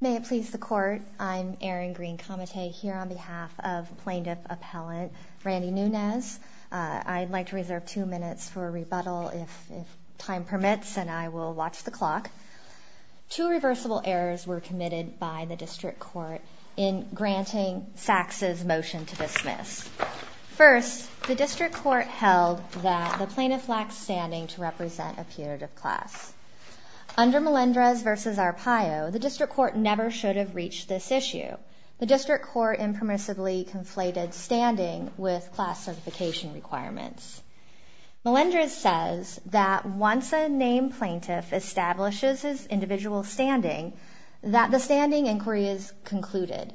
May it please the Court, I'm Erin Greene-Kamate here on behalf of Plaintiff Appellant Randy Nunez. I'd like to reserve two minutes for a rebuttal if time permits and I will watch the clock. Two reversible errors were committed by the District Court in granting Saks' motion to dismiss. First, the District Court held that the plaintiff lacked standing to represent a putative class. Under Melendrez v. Arpaio, the District Court never should have reached this issue. The District Court impermissibly conflated standing with class certification requirements. Melendrez says that once a named plaintiff establishes his individual standing, that the standing inquiry is concluded.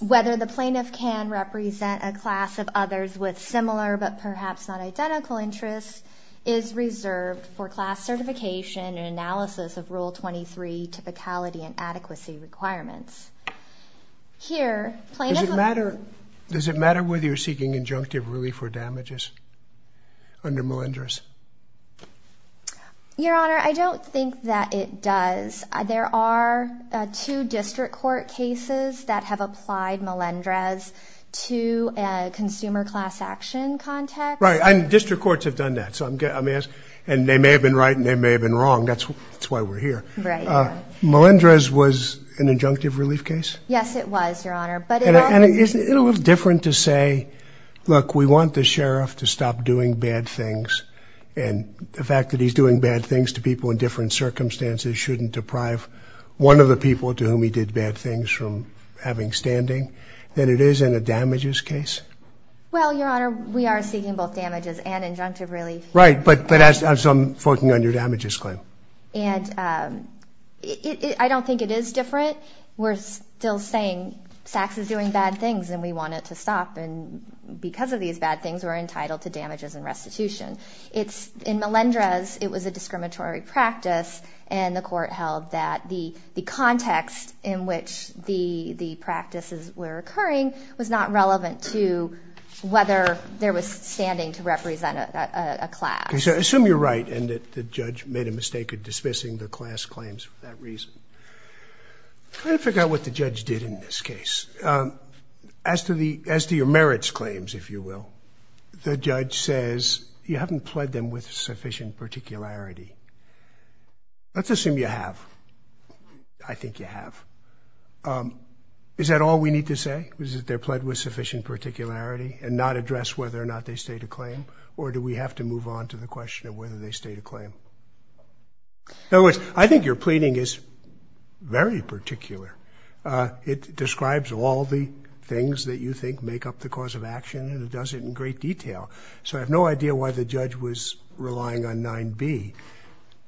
Whether the plaintiff can represent a class of others with similar but perhaps not identical interests is reserved for class certification and analysis of Rule 23 typicality and adequacy requirements. Does it matter whether you're seeking injunctive relief or damages under Melendrez? Your Honor, I don't think that it does. There are two consumer class action contexts. District Courts have done that. They may have been right and they may have been wrong. That's why we're here. Melendrez was an injunctive relief case? Yes, it was, Your Honor. Isn't it a little different to say, look, we want the sheriff to stop doing bad things and the fact that he's doing bad things to people in different circumstances shouldn't deprive one of the people to whom he did bad things from having standing than it is in a damages case? Well, Your Honor, we are seeking both damages and injunctive relief. Right, but as I'm forking on your damages claim. I don't think it is different. We're still saying Saks is doing bad things and we want it to stop and because of these bad things, we're entitled to damages and restitution. In Melendrez, it was a discriminatory practice and the court held that the context in which the practices were occurring was not relevant to whether there was standing to represent a class. Okay, so assume you're right and that the judge made a mistake of dismissing the class claims for that reason. I forgot what the judge did in this case. As to your merits claims, if there is sufficient particularity. Let's assume you have. I think you have. Is that all we need to say? Is it that they're pledged with sufficient particularity and not address whether or not they state a claim or do we have to move on to the question of whether they state a claim? In other words, I think your pleading is very particular. It describes all the things that you think make up the cause of action and it does it in great detail. So I have no idea why the judge was relying on 9B,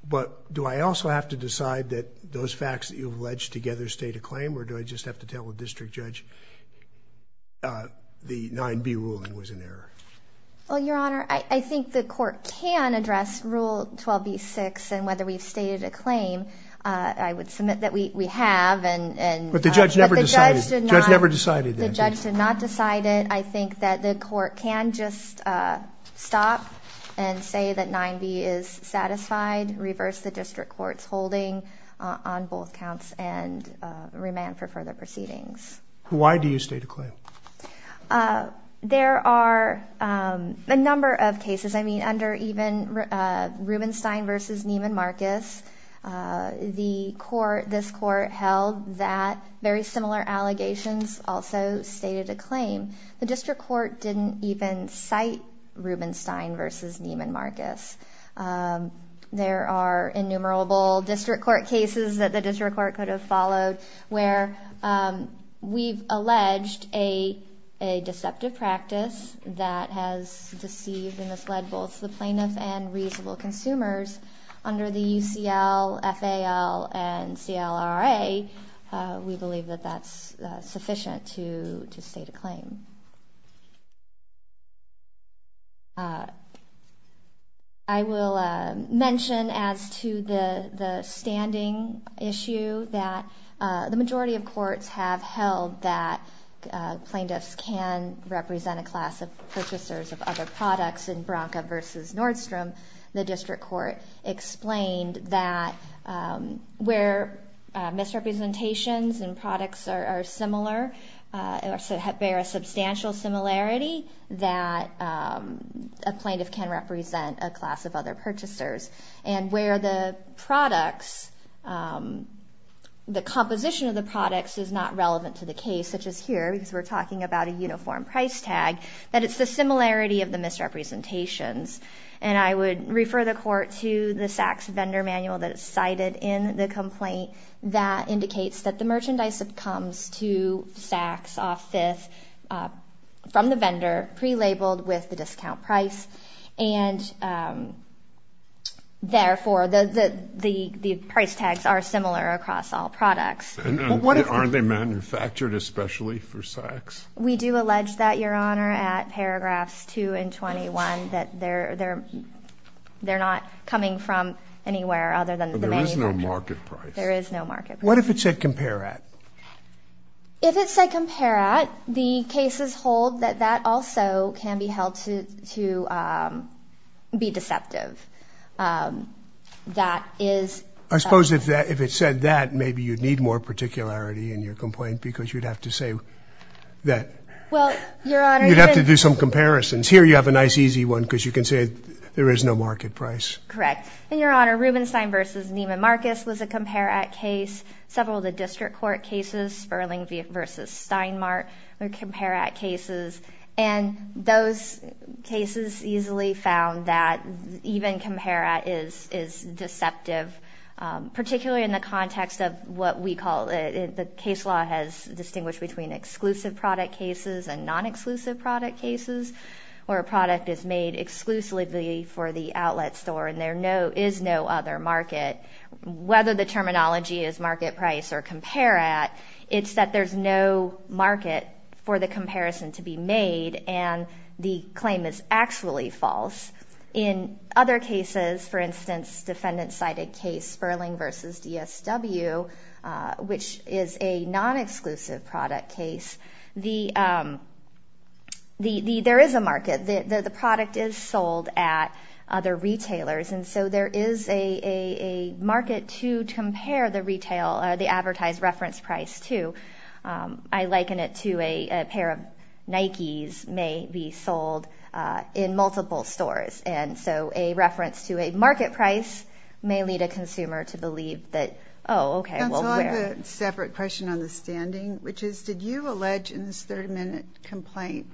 but do I also have to decide that those facts that you've alleged together state a claim or do I just have to tell the district judge the 9B ruling was an error? Well, your honor, I think the court can address Rule 12B-6 and whether we've stated a claim. I would submit that we have. But the judge never decided that. The judge did not decide it. I think that the court can just stop and say that 9B is satisfied, reverse the district court's holding on both counts and remand for further proceedings. Why do you state a claim? There are a number of cases. I mean under even Rubenstein v. Neiman Marcus, the court, this court held that very similar argument and similar allegations also stated a claim. The district court didn't even cite Rubenstein v. Neiman Marcus. There are innumerable district court cases that the district court could have followed where we've alleged a deceptive practice that has deceived and misled both the plaintiffs and reasonable consumers under the UCL, FAL, and CLRA. We believe that that's sufficient to state a claim. I will mention as to the standing issue that the majority of courts have held that plaintiffs can represent a class of purchasers of other products in Bronco v. Nordstrom. The district court explained that where misrepresentations and products are similar, bear a substantial similarity, that a plaintiff can represent a class of other purchasers. And where the products, the composition of the products is not relevant to the case, such as here, because we're talking about a uniform price tag, that it's the similarity of the misrepresentations. And I would refer the court to the Sachs vendor manual that cited in the complaint that indicates that the merchandise comes to Sachs office from the vendor, pre-labeled with the discount price, and therefore the price tags are similar across all products. Aren't they manufactured especially for Sachs? We do allege that, Your Honor, at paragraphs 2 and 21, that they're not coming from anywhere other than the Sachs vendor. So there is no market price. There is no market price. What if it said compare at? If it said compare at, the cases hold that that also can be held to be deceptive. That is... I suppose if it said that, maybe you'd need more particularity in your complaint because you'd have to say that... You'd have to do some comparisons. Here you have a nice easy one because you can say there is no market price. Correct. And, Your Honor, Rubenstein v. Neiman Marcus was a compare at case. Several of the district court cases, Sperling v. Steinmart were compare at cases. And those cases easily found that even compare at is deceptive, particularly in the context of what we call... The case law has distinguished between exclusive product cases and non-exclusive product cases, where a product is made exclusively for the outlet store and there is no other market. Whether the terminology is market price or compare at, it's that there's no market for the comparison to be made and the claim is actually false. In other cases, for instance, defendant-sided case Sperling v. DSW, which is a non-exclusive product case, there is a market. The product is sold at other retailers. It's a non-exclusive retailer. And so there is a market to compare the retail or the advertised reference price to. I liken it to a pair of Nikes may be sold in multiple stores. And so a reference to a market price may lead a consumer to believe that, oh, okay, we'll wear it. That's a separate question on the standing, which is, did you allege in this 30-minute complaint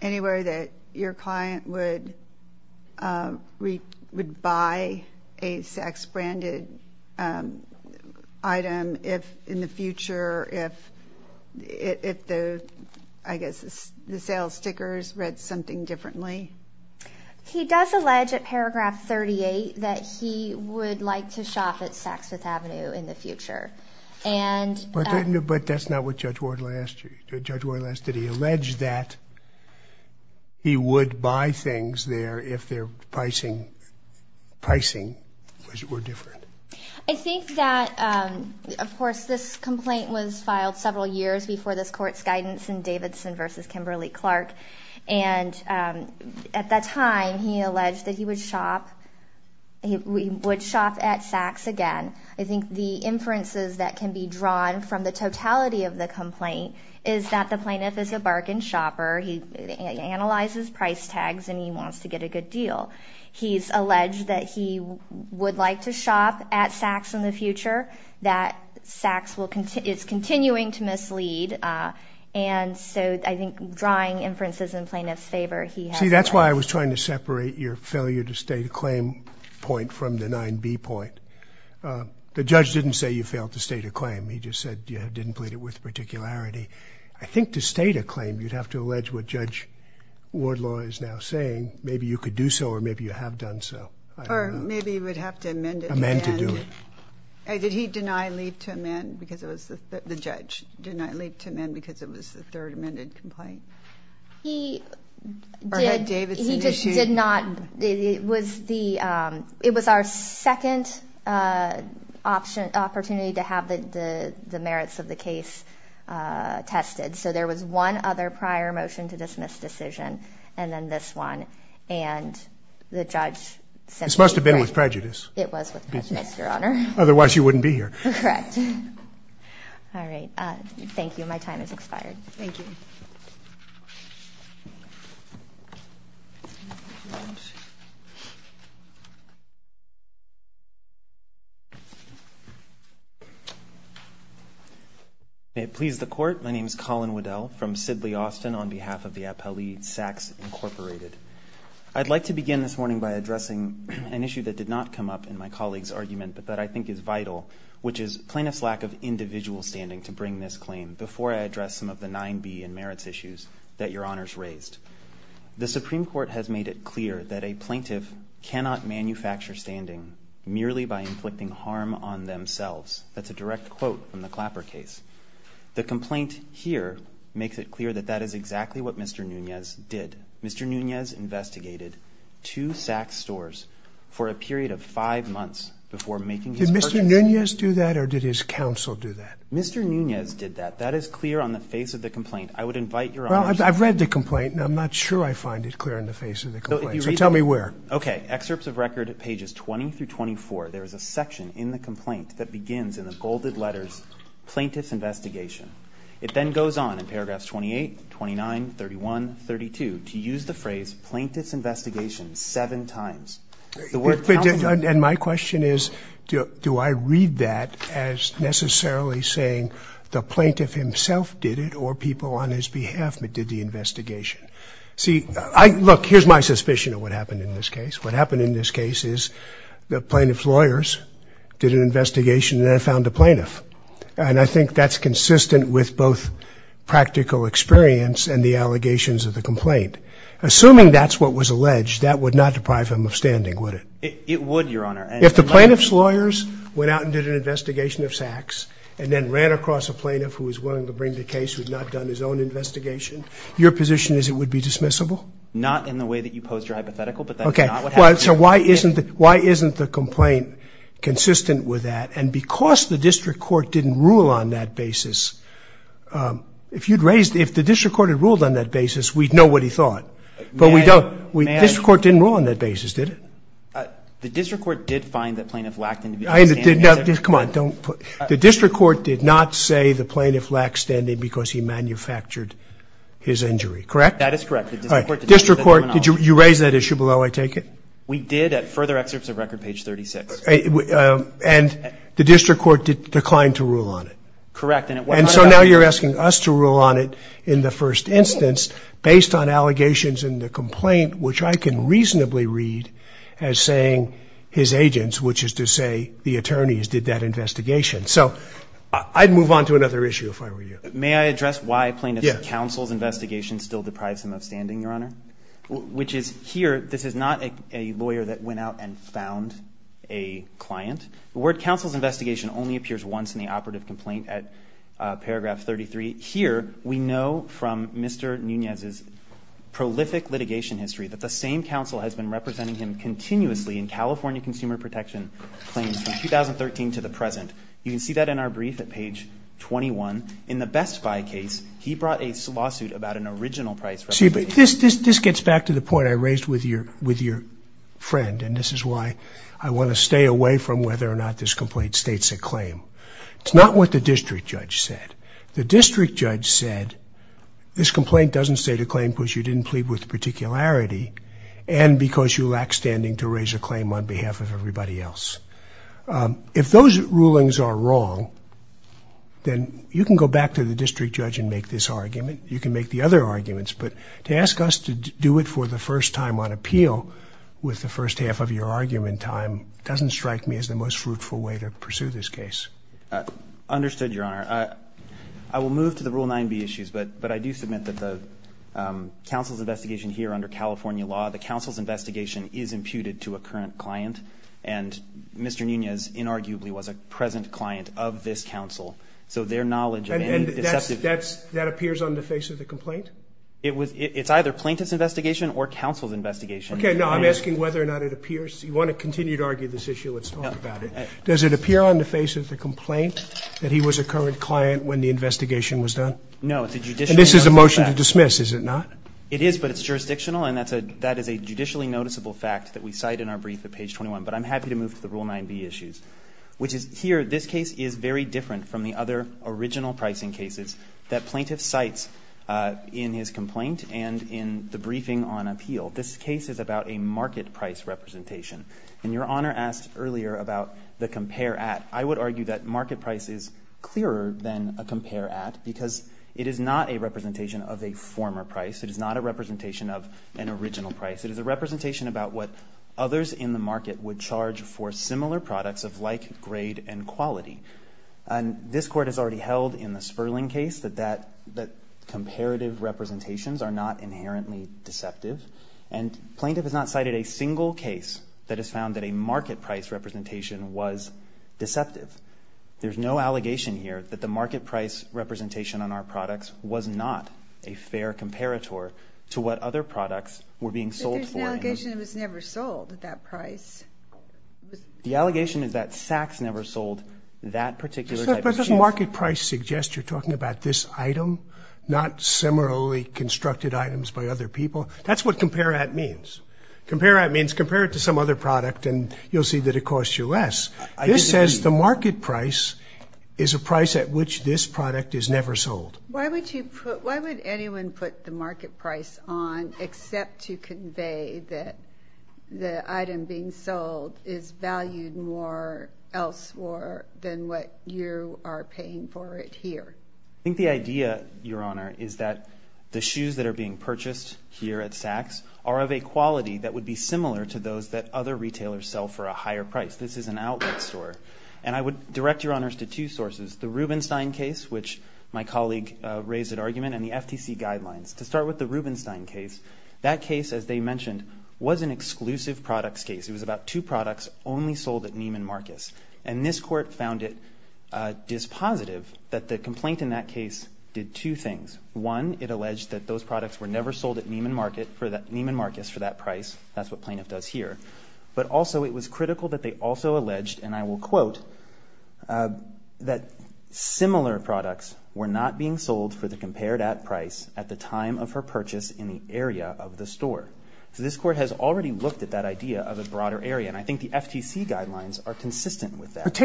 anywhere that your client would buy a Saks Branded item in the future if the sales stickers read something differently? He does allege at paragraph 38 that he would like to shop at Saks Fifth Avenue in the future. But that's not what Judge Woyle asked you. Judge Woyle asked, did he allege that he would buy things there if their pricing were different? I think that, of course, this complaint was filed several years before this Court's guidance in Davidson v. Kimberly-Clark. And at that time, he alleged that he would shop at Saks again. I think the inferences that can be drawn from the totality of the complaint is that the plaintiff is a bargain shopper. He analyzes price tags, and he wants to get a good deal. He's alleged that he would like to shop at Saks in the future, that Saks is continuing to mislead. And so I think drawing inferences in plaintiff's favor, he has alleged. See, that's why I was trying to separate your failure to state a claim point from the 9B point. The judge didn't say you failed to state a claim. He just said you didn't plead it with particularity. I think to state a claim, you'd have to allege what Judge Wardlaw is now saying. Maybe you could do so, or maybe you have done so. Or maybe you would have to amend it. Amend to do it. Did he deny leave to amend because it was the judge denied leave to amend because it was the third amended complaint? He did not. It was our second opportunity to have the merits of the case tested. So there was one other prior motion to dismiss decision, and then this one. And the judge simply agreed. This must have been with prejudice. It was with prejudice, Your Honor. Otherwise, you wouldn't be here. Correct. All right. Thank you. My time has expired. Thank you. Thank you. May it please the court, my name is Colin Waddell from Sidley, Austin on behalf of the Appellee Sachs Incorporated. I'd like to begin this morning by addressing an issue that did not come up in my colleague's argument, but that I think is vital, which is plaintiff's lack of individual standing to bring this claim. Before I address some of the 9B and 10C that Your Honor's raised, the Supreme Court has made it clear that a plaintiff cannot manufacture standing merely by inflicting harm on themselves. That's a direct quote from the Clapper case. The complaint here makes it clear that that is exactly what Mr. Nunez did. Mr. Nunez investigated two Sachs stores for a period of 5 months before making his purchase. Did Mr. Nunez do that or did his counsel do that? Mr. Nunez did that. That is clear on the face of the complaint. I would invite Your Honor, I've read the complaint and I'm not sure I find it clear on the face of the complaint. So tell me where. Okay. Excerpts of record at pages 20 through 24, there is a section in the complaint that begins in the bolded letters, plaintiff's investigation. It then goes on in paragraphs 28, 29, 31, 32 to use the phrase plaintiff's investigation seven times. And my question is, do I read that as necessarily saying the plaintiff himself did it or people on his behalf did the investigation? See, look, here's my suspicion of what happened in this case. What happened in this case is the plaintiff's lawyers did an investigation and then found a plaintiff. And I think that's consistent with both practical experience and the allegations of the complaint. Assuming that's what was alleged, that would not deprive him of standing, would it? It would, Your Honor. If the plaintiff's lawyers went out and did an investigation of Sachs and then ran across a plaintiff who was willing to bring the case, who had not done his own investigation, your position is it would be dismissible? Not in the way that you posed your hypothetical, but that's not what happened. Okay. So why isn't the complaint consistent with that? And because the district court didn't rule on that basis, if you'd raised, if the district court had ruled on that basis, we'd know what he thought. But we don't. District court didn't rule on that basis, did it? The district court did find that plaintiff lacked individual standing. The district court did not say the plaintiff lacked standing because he manufactured his injury, correct? That is correct. District court, you raised that issue below, I take it? We did at further excerpts of record, page 36. And the district court declined to rule on it? Correct. And so now you're asking us to rule on it in the first instance based on allegations in the complaint, which I can reasonably read as saying his agents, which is to say the attorneys, did that investigation. So I'd move on to another issue if I were you. May I address why plaintiff's counsel's investigation still deprives him of standing, Your Honor? Which is here, this is not a lawyer that went out and found a client. The word counsel's investigation only appears once in the operative complaint at paragraph 33. Here, we know from Mr. Nunez's prolific litigation history that the same California Consumer Protection claims from 2013 to the present. You can see that in our brief at page 21. In the Best Buy case, he brought a lawsuit about an original price representation. See, but this gets back to the point I raised with your friend, and this is why I want to stay away from whether or not this complaint states a claim. It's not what the district judge said. The district judge said this complaint doesn't state a claim because you didn't plead with particularity and because you lacked standing to raise a claim on behalf of everybody else. If those rulings are wrong, then you can go back to the district judge and make this argument. You can make the other arguments, but to ask us to do it for the first time on appeal with the first half of your argument time doesn't strike me as the most fruitful way to pursue this case. Understood, Your Honor. I will move to the Rule 9b issues, but I do submit that the counsel's investigation here under California law, the counsel's investigation is imputed to a current client, and Mr. Nunez inarguably was a present client of this counsel, so their knowledge of any deceptive... And that appears on the face of the complaint? It's either plaintiff's investigation or counsel's investigation. Okay, no, I'm asking whether or not it appears. You want to continue to argue this issue, let's talk about it. Does it appear on the face of the complaint that he was a current client when the investigation was done? No, it's a judicially noticeable fact. And this is a motion to dismiss, is it not? It is, but it's jurisdictional and that is a judicially noticeable fact that we cite in our brief at page 21. But I'm happy to move to the Rule 9b issues, which is here, this case is very different from the other original pricing cases that plaintiff cites in his complaint and in the briefing on appeal. This case is about a market price representation. And Your Honor asked earlier about the compare at. I would argue that market price is clearer than a compare at because it is not a representation of a former price. It is not a representation of an original price. It is a representation about what others in the market would charge for similar products of like grade and quality. And this Court has already held in the Sperling case that comparative representations are not inherently deceptive. And plaintiff has not cited a single case that has found that a market price representation was deceptive. There's no allegation here that the market price representation on our products was not a fair comparator to what other products were being sold for. But there's an allegation it was never sold at that price. The allegation is that Sachs never sold that particular type of cheese. But doesn't market price suggest you're talking about this item, not similarly constructed items by other people? That's what compare at means. Compare at means compare it to some other product and you'll see that it costs you less. This says the market price is a price at which this product is never sold. Why would anyone put the market price on except to convey that the item being sold is valued more elsewhere than what you are paying for it here? I think the idea, Your Honor, is that the shoes that are being purchased here at Sachs are of a quality that would be similar to those that other retailers sell for a higher price. This is an outlet store. And I would direct Your Honors to two sources. The Rubenstein case, which my colleague raised at argument, and the FTC guidelines. To start with the Rubenstein case, that case, as they mentioned, was an exclusive products case. It was about two products only sold at Neiman Marcus. And this court found it dispositive that the complaint in that case did two things. One, it alleged that those products were never sold at Neiman Marcus for that price. That's what plaintiff does here. But also it was critical that they also alleged, and I will quote, that similar products were not being sold for the compared at price at the time of her purchase in the area of the store. So this court has already looked at that idea of a broader area. And I think the FTC guidelines are consistent with that.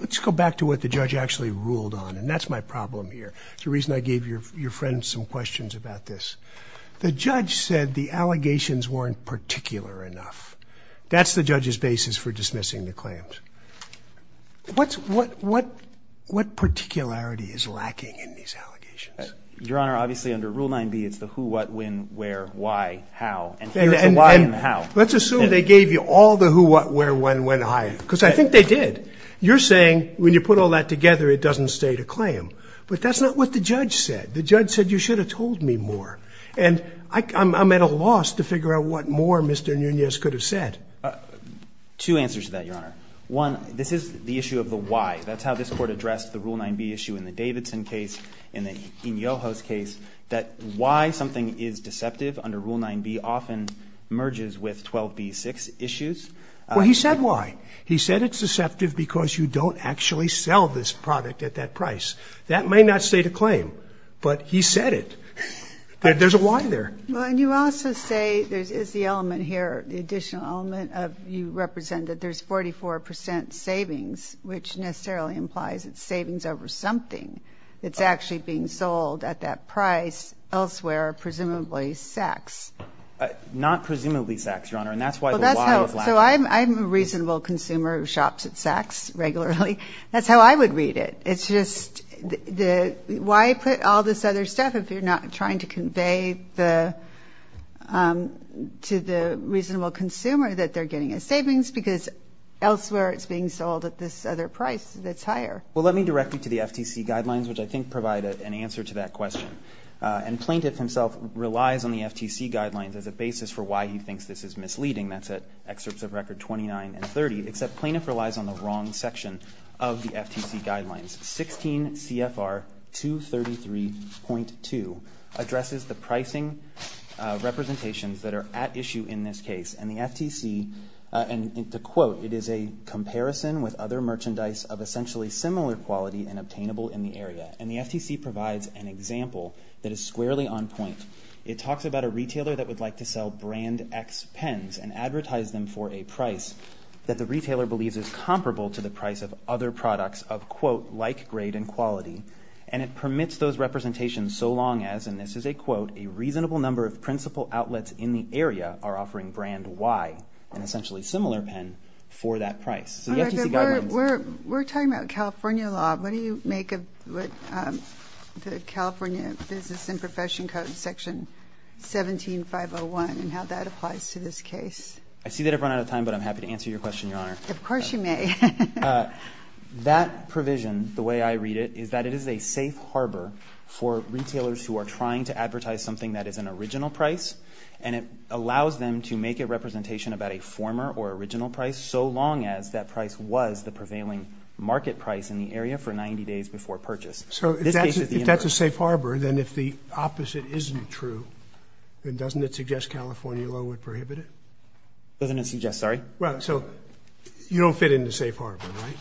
Let's go back to what the judge actually ruled on. And that's my problem here. It's the reason I gave your friend some questions about this. The judge said the allegations weren't particular enough. That's the judge's basis for dismissing the claims. What's... what... what... what particularity is lacking in these allegations? Your Honor, obviously under Rule 9b, it's the who, what, when, where, why, how. And here's the why and how. Let's assume they gave you all the who, what, where, when, when, how. Because I think they did. You're saying when you put all that together, it doesn't state a claim. But that's not what the judge said. The judge said you should have told me more. And I'm... I'm at a loss to figure out what more Mr. Nunez could have said. Two answers to that, Your Honor. One, this is the issue of the why. That's how this Court addressed the Rule 9b issue in the Davidson case, in the Iñoho's case, that why something is deceptive under Rule 9b often merges with 12b-6 issues. Well, he said why. He said it's deceptive because you don't actually sell this product at that price. That may not state a claim, but he said it. There's a why there. Well, and you also say there is the element here, the additional element of, you represent that there's 44% savings, which necessarily implies it's savings over something that's actually being sold at that price elsewhere, presumably Sachs. Not presumably Sachs, Your Honor, and that's why the why is lacking. So I'm a reasonable consumer who shops at Sachs regularly. That's how I would read it. It's just the... plaintiff, if you're not trying to convey to the reasonable consumer that they're getting a savings because elsewhere it's being sold at this other price that's higher. Well, let me direct you to the FTC guidelines, which I think provide an answer to that question. And plaintiff himself relies on the FTC guidelines as a basis for why he thinks this is misleading. That's at excerpts of Record 29 and 30, except plaintiff relies on the wrong section of the FTC guidelines. 16 CFR 233.2 addresses the pricing representations that are at issue in this case. And the FTC, and to quote, it is a comparison with other merchandise of essentially similar quality and obtainable in the area. And the FTC provides an example that is squarely on point. It talks about a retailer that would like to sell brand X pens and advertise them for a price that the retailer believes is comparable to the price of other products of quote, like grade and quality. And it permits those representations so long as, and this is a quote, a reasonable number of principal outlets in the area are offering brand Y, an essentially similar pen, for that price. So the FTC guidelines... We're talking about California law. What do you make of the California Business and Profession Code Section 17501 and how that applies to this case? I see that I've run out of time, but I'm happy to answer your question, Your Honor. Of course you may. That provision, the way I read it, is that it is a safe harbor for retailers who are trying to advertise something that is an original price and it allows them to make a representation about a former or original price so long as that price was the prevailing market price in the area for 90 days before purchase. So if that's a safe harbor, then if the opposite isn't true, then doesn't it suggest California law would prohibit it? Doesn't it suggest... Sorry? You don't fit in the safe harbor, right?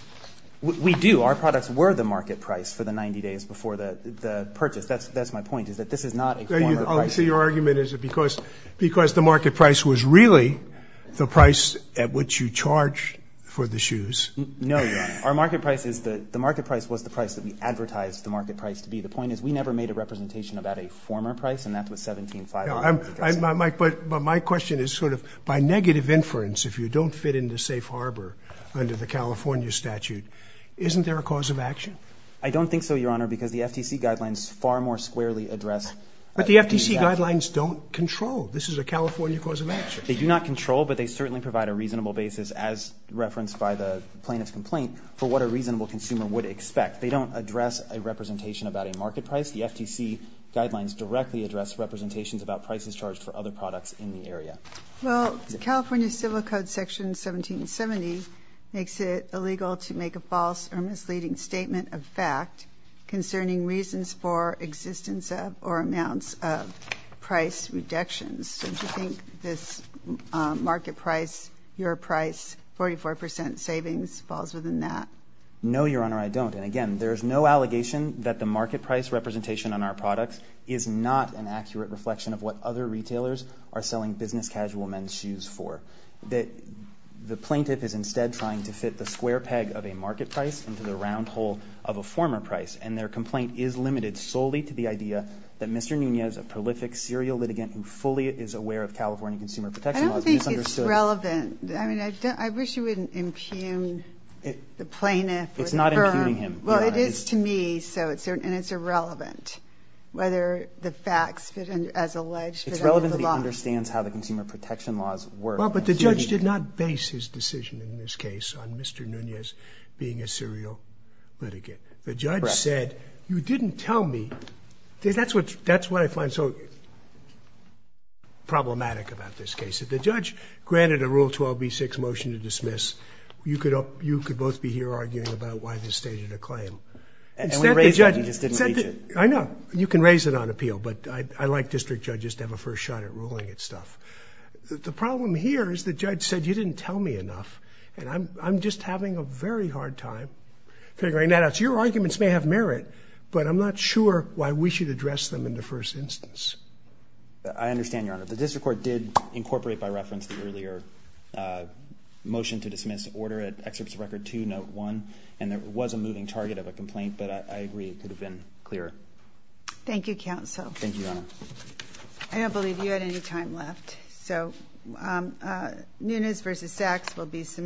We do. Our products were the market price for the 90 days before the purchase. That's my point, is that this is not a former price. So your argument is because the market price was really the price at which you charged for the shoes. No, Your Honor. The market price was the price that we advertised the market price to be. The point is we never made a representation about a former price, and that was 17501. But my question is sort of by negative inference, if you don't fit in the safe harbor under the California statute, isn't there a cause of action? I don't think so, Your Honor, because the FTC guidelines far more squarely address... But the FTC guidelines don't control. This is a California cause of action. They do not control, but they certainly provide a reasonable basis as referenced by the plaintiff's complaint for what a reasonable consumer would expect. They don't address a representation about a market price. The FTC guidelines directly address representations about prices charged for other products in the area. Well, the California Civil Code Section 1770 makes it illegal to make a false or misleading statement of fact concerning reasons for existence of or amounts of price reductions. Don't you think this market price, your price, 44 percent savings falls within that? No, Your Honor, I don't. And again, there's no allegation that the market price representation on our products is not an accurate reflection of what other retailers are selling business casual men's shoes for. The plaintiff is instead trying to fit the square peg of a market price into the round hole of a former price, and their complaint is limited solely to the idea that Mr. Nunez, a prolific serial litigant who fully is aware of California consumer protection laws, misunderstood... I don't think it's relevant. I mean, I wish you wouldn't impugn the plaintiff or the firm. It's not impugning him, Your Honor. Well, it is to me, so it's irrelevant whether the facts as alleged... It's relevant that he understands how the consumer protection laws work. Well, but the judge did not base his decision in this case on Mr. Nunez being a serial litigant. The judge said, you didn't tell me. That's what I find so problematic about this case. If the judge granted a Rule 12b6 motion to dismiss, you could both be here arguing about why the judge has stated a claim. I know. You can raise it on appeal, but I like district judges to have a first shot at ruling stuff. The problem here is the judge said, you didn't tell me enough. And I'm just having a very hard time figuring that out. Your arguments may have merit, but I'm not sure why we should address them in the first instance. I understand, Your Honor. The district court did incorporate by reference the earlier motion to dismiss order at Excerpts of Record 2, Note 1, and there was a moving target of a complaint, but I agree it could have been clearer. Thank you, Counsel. Thank you, Your Honor. I don't believe you had any time left, so Nunez v. Sachs will be submitted.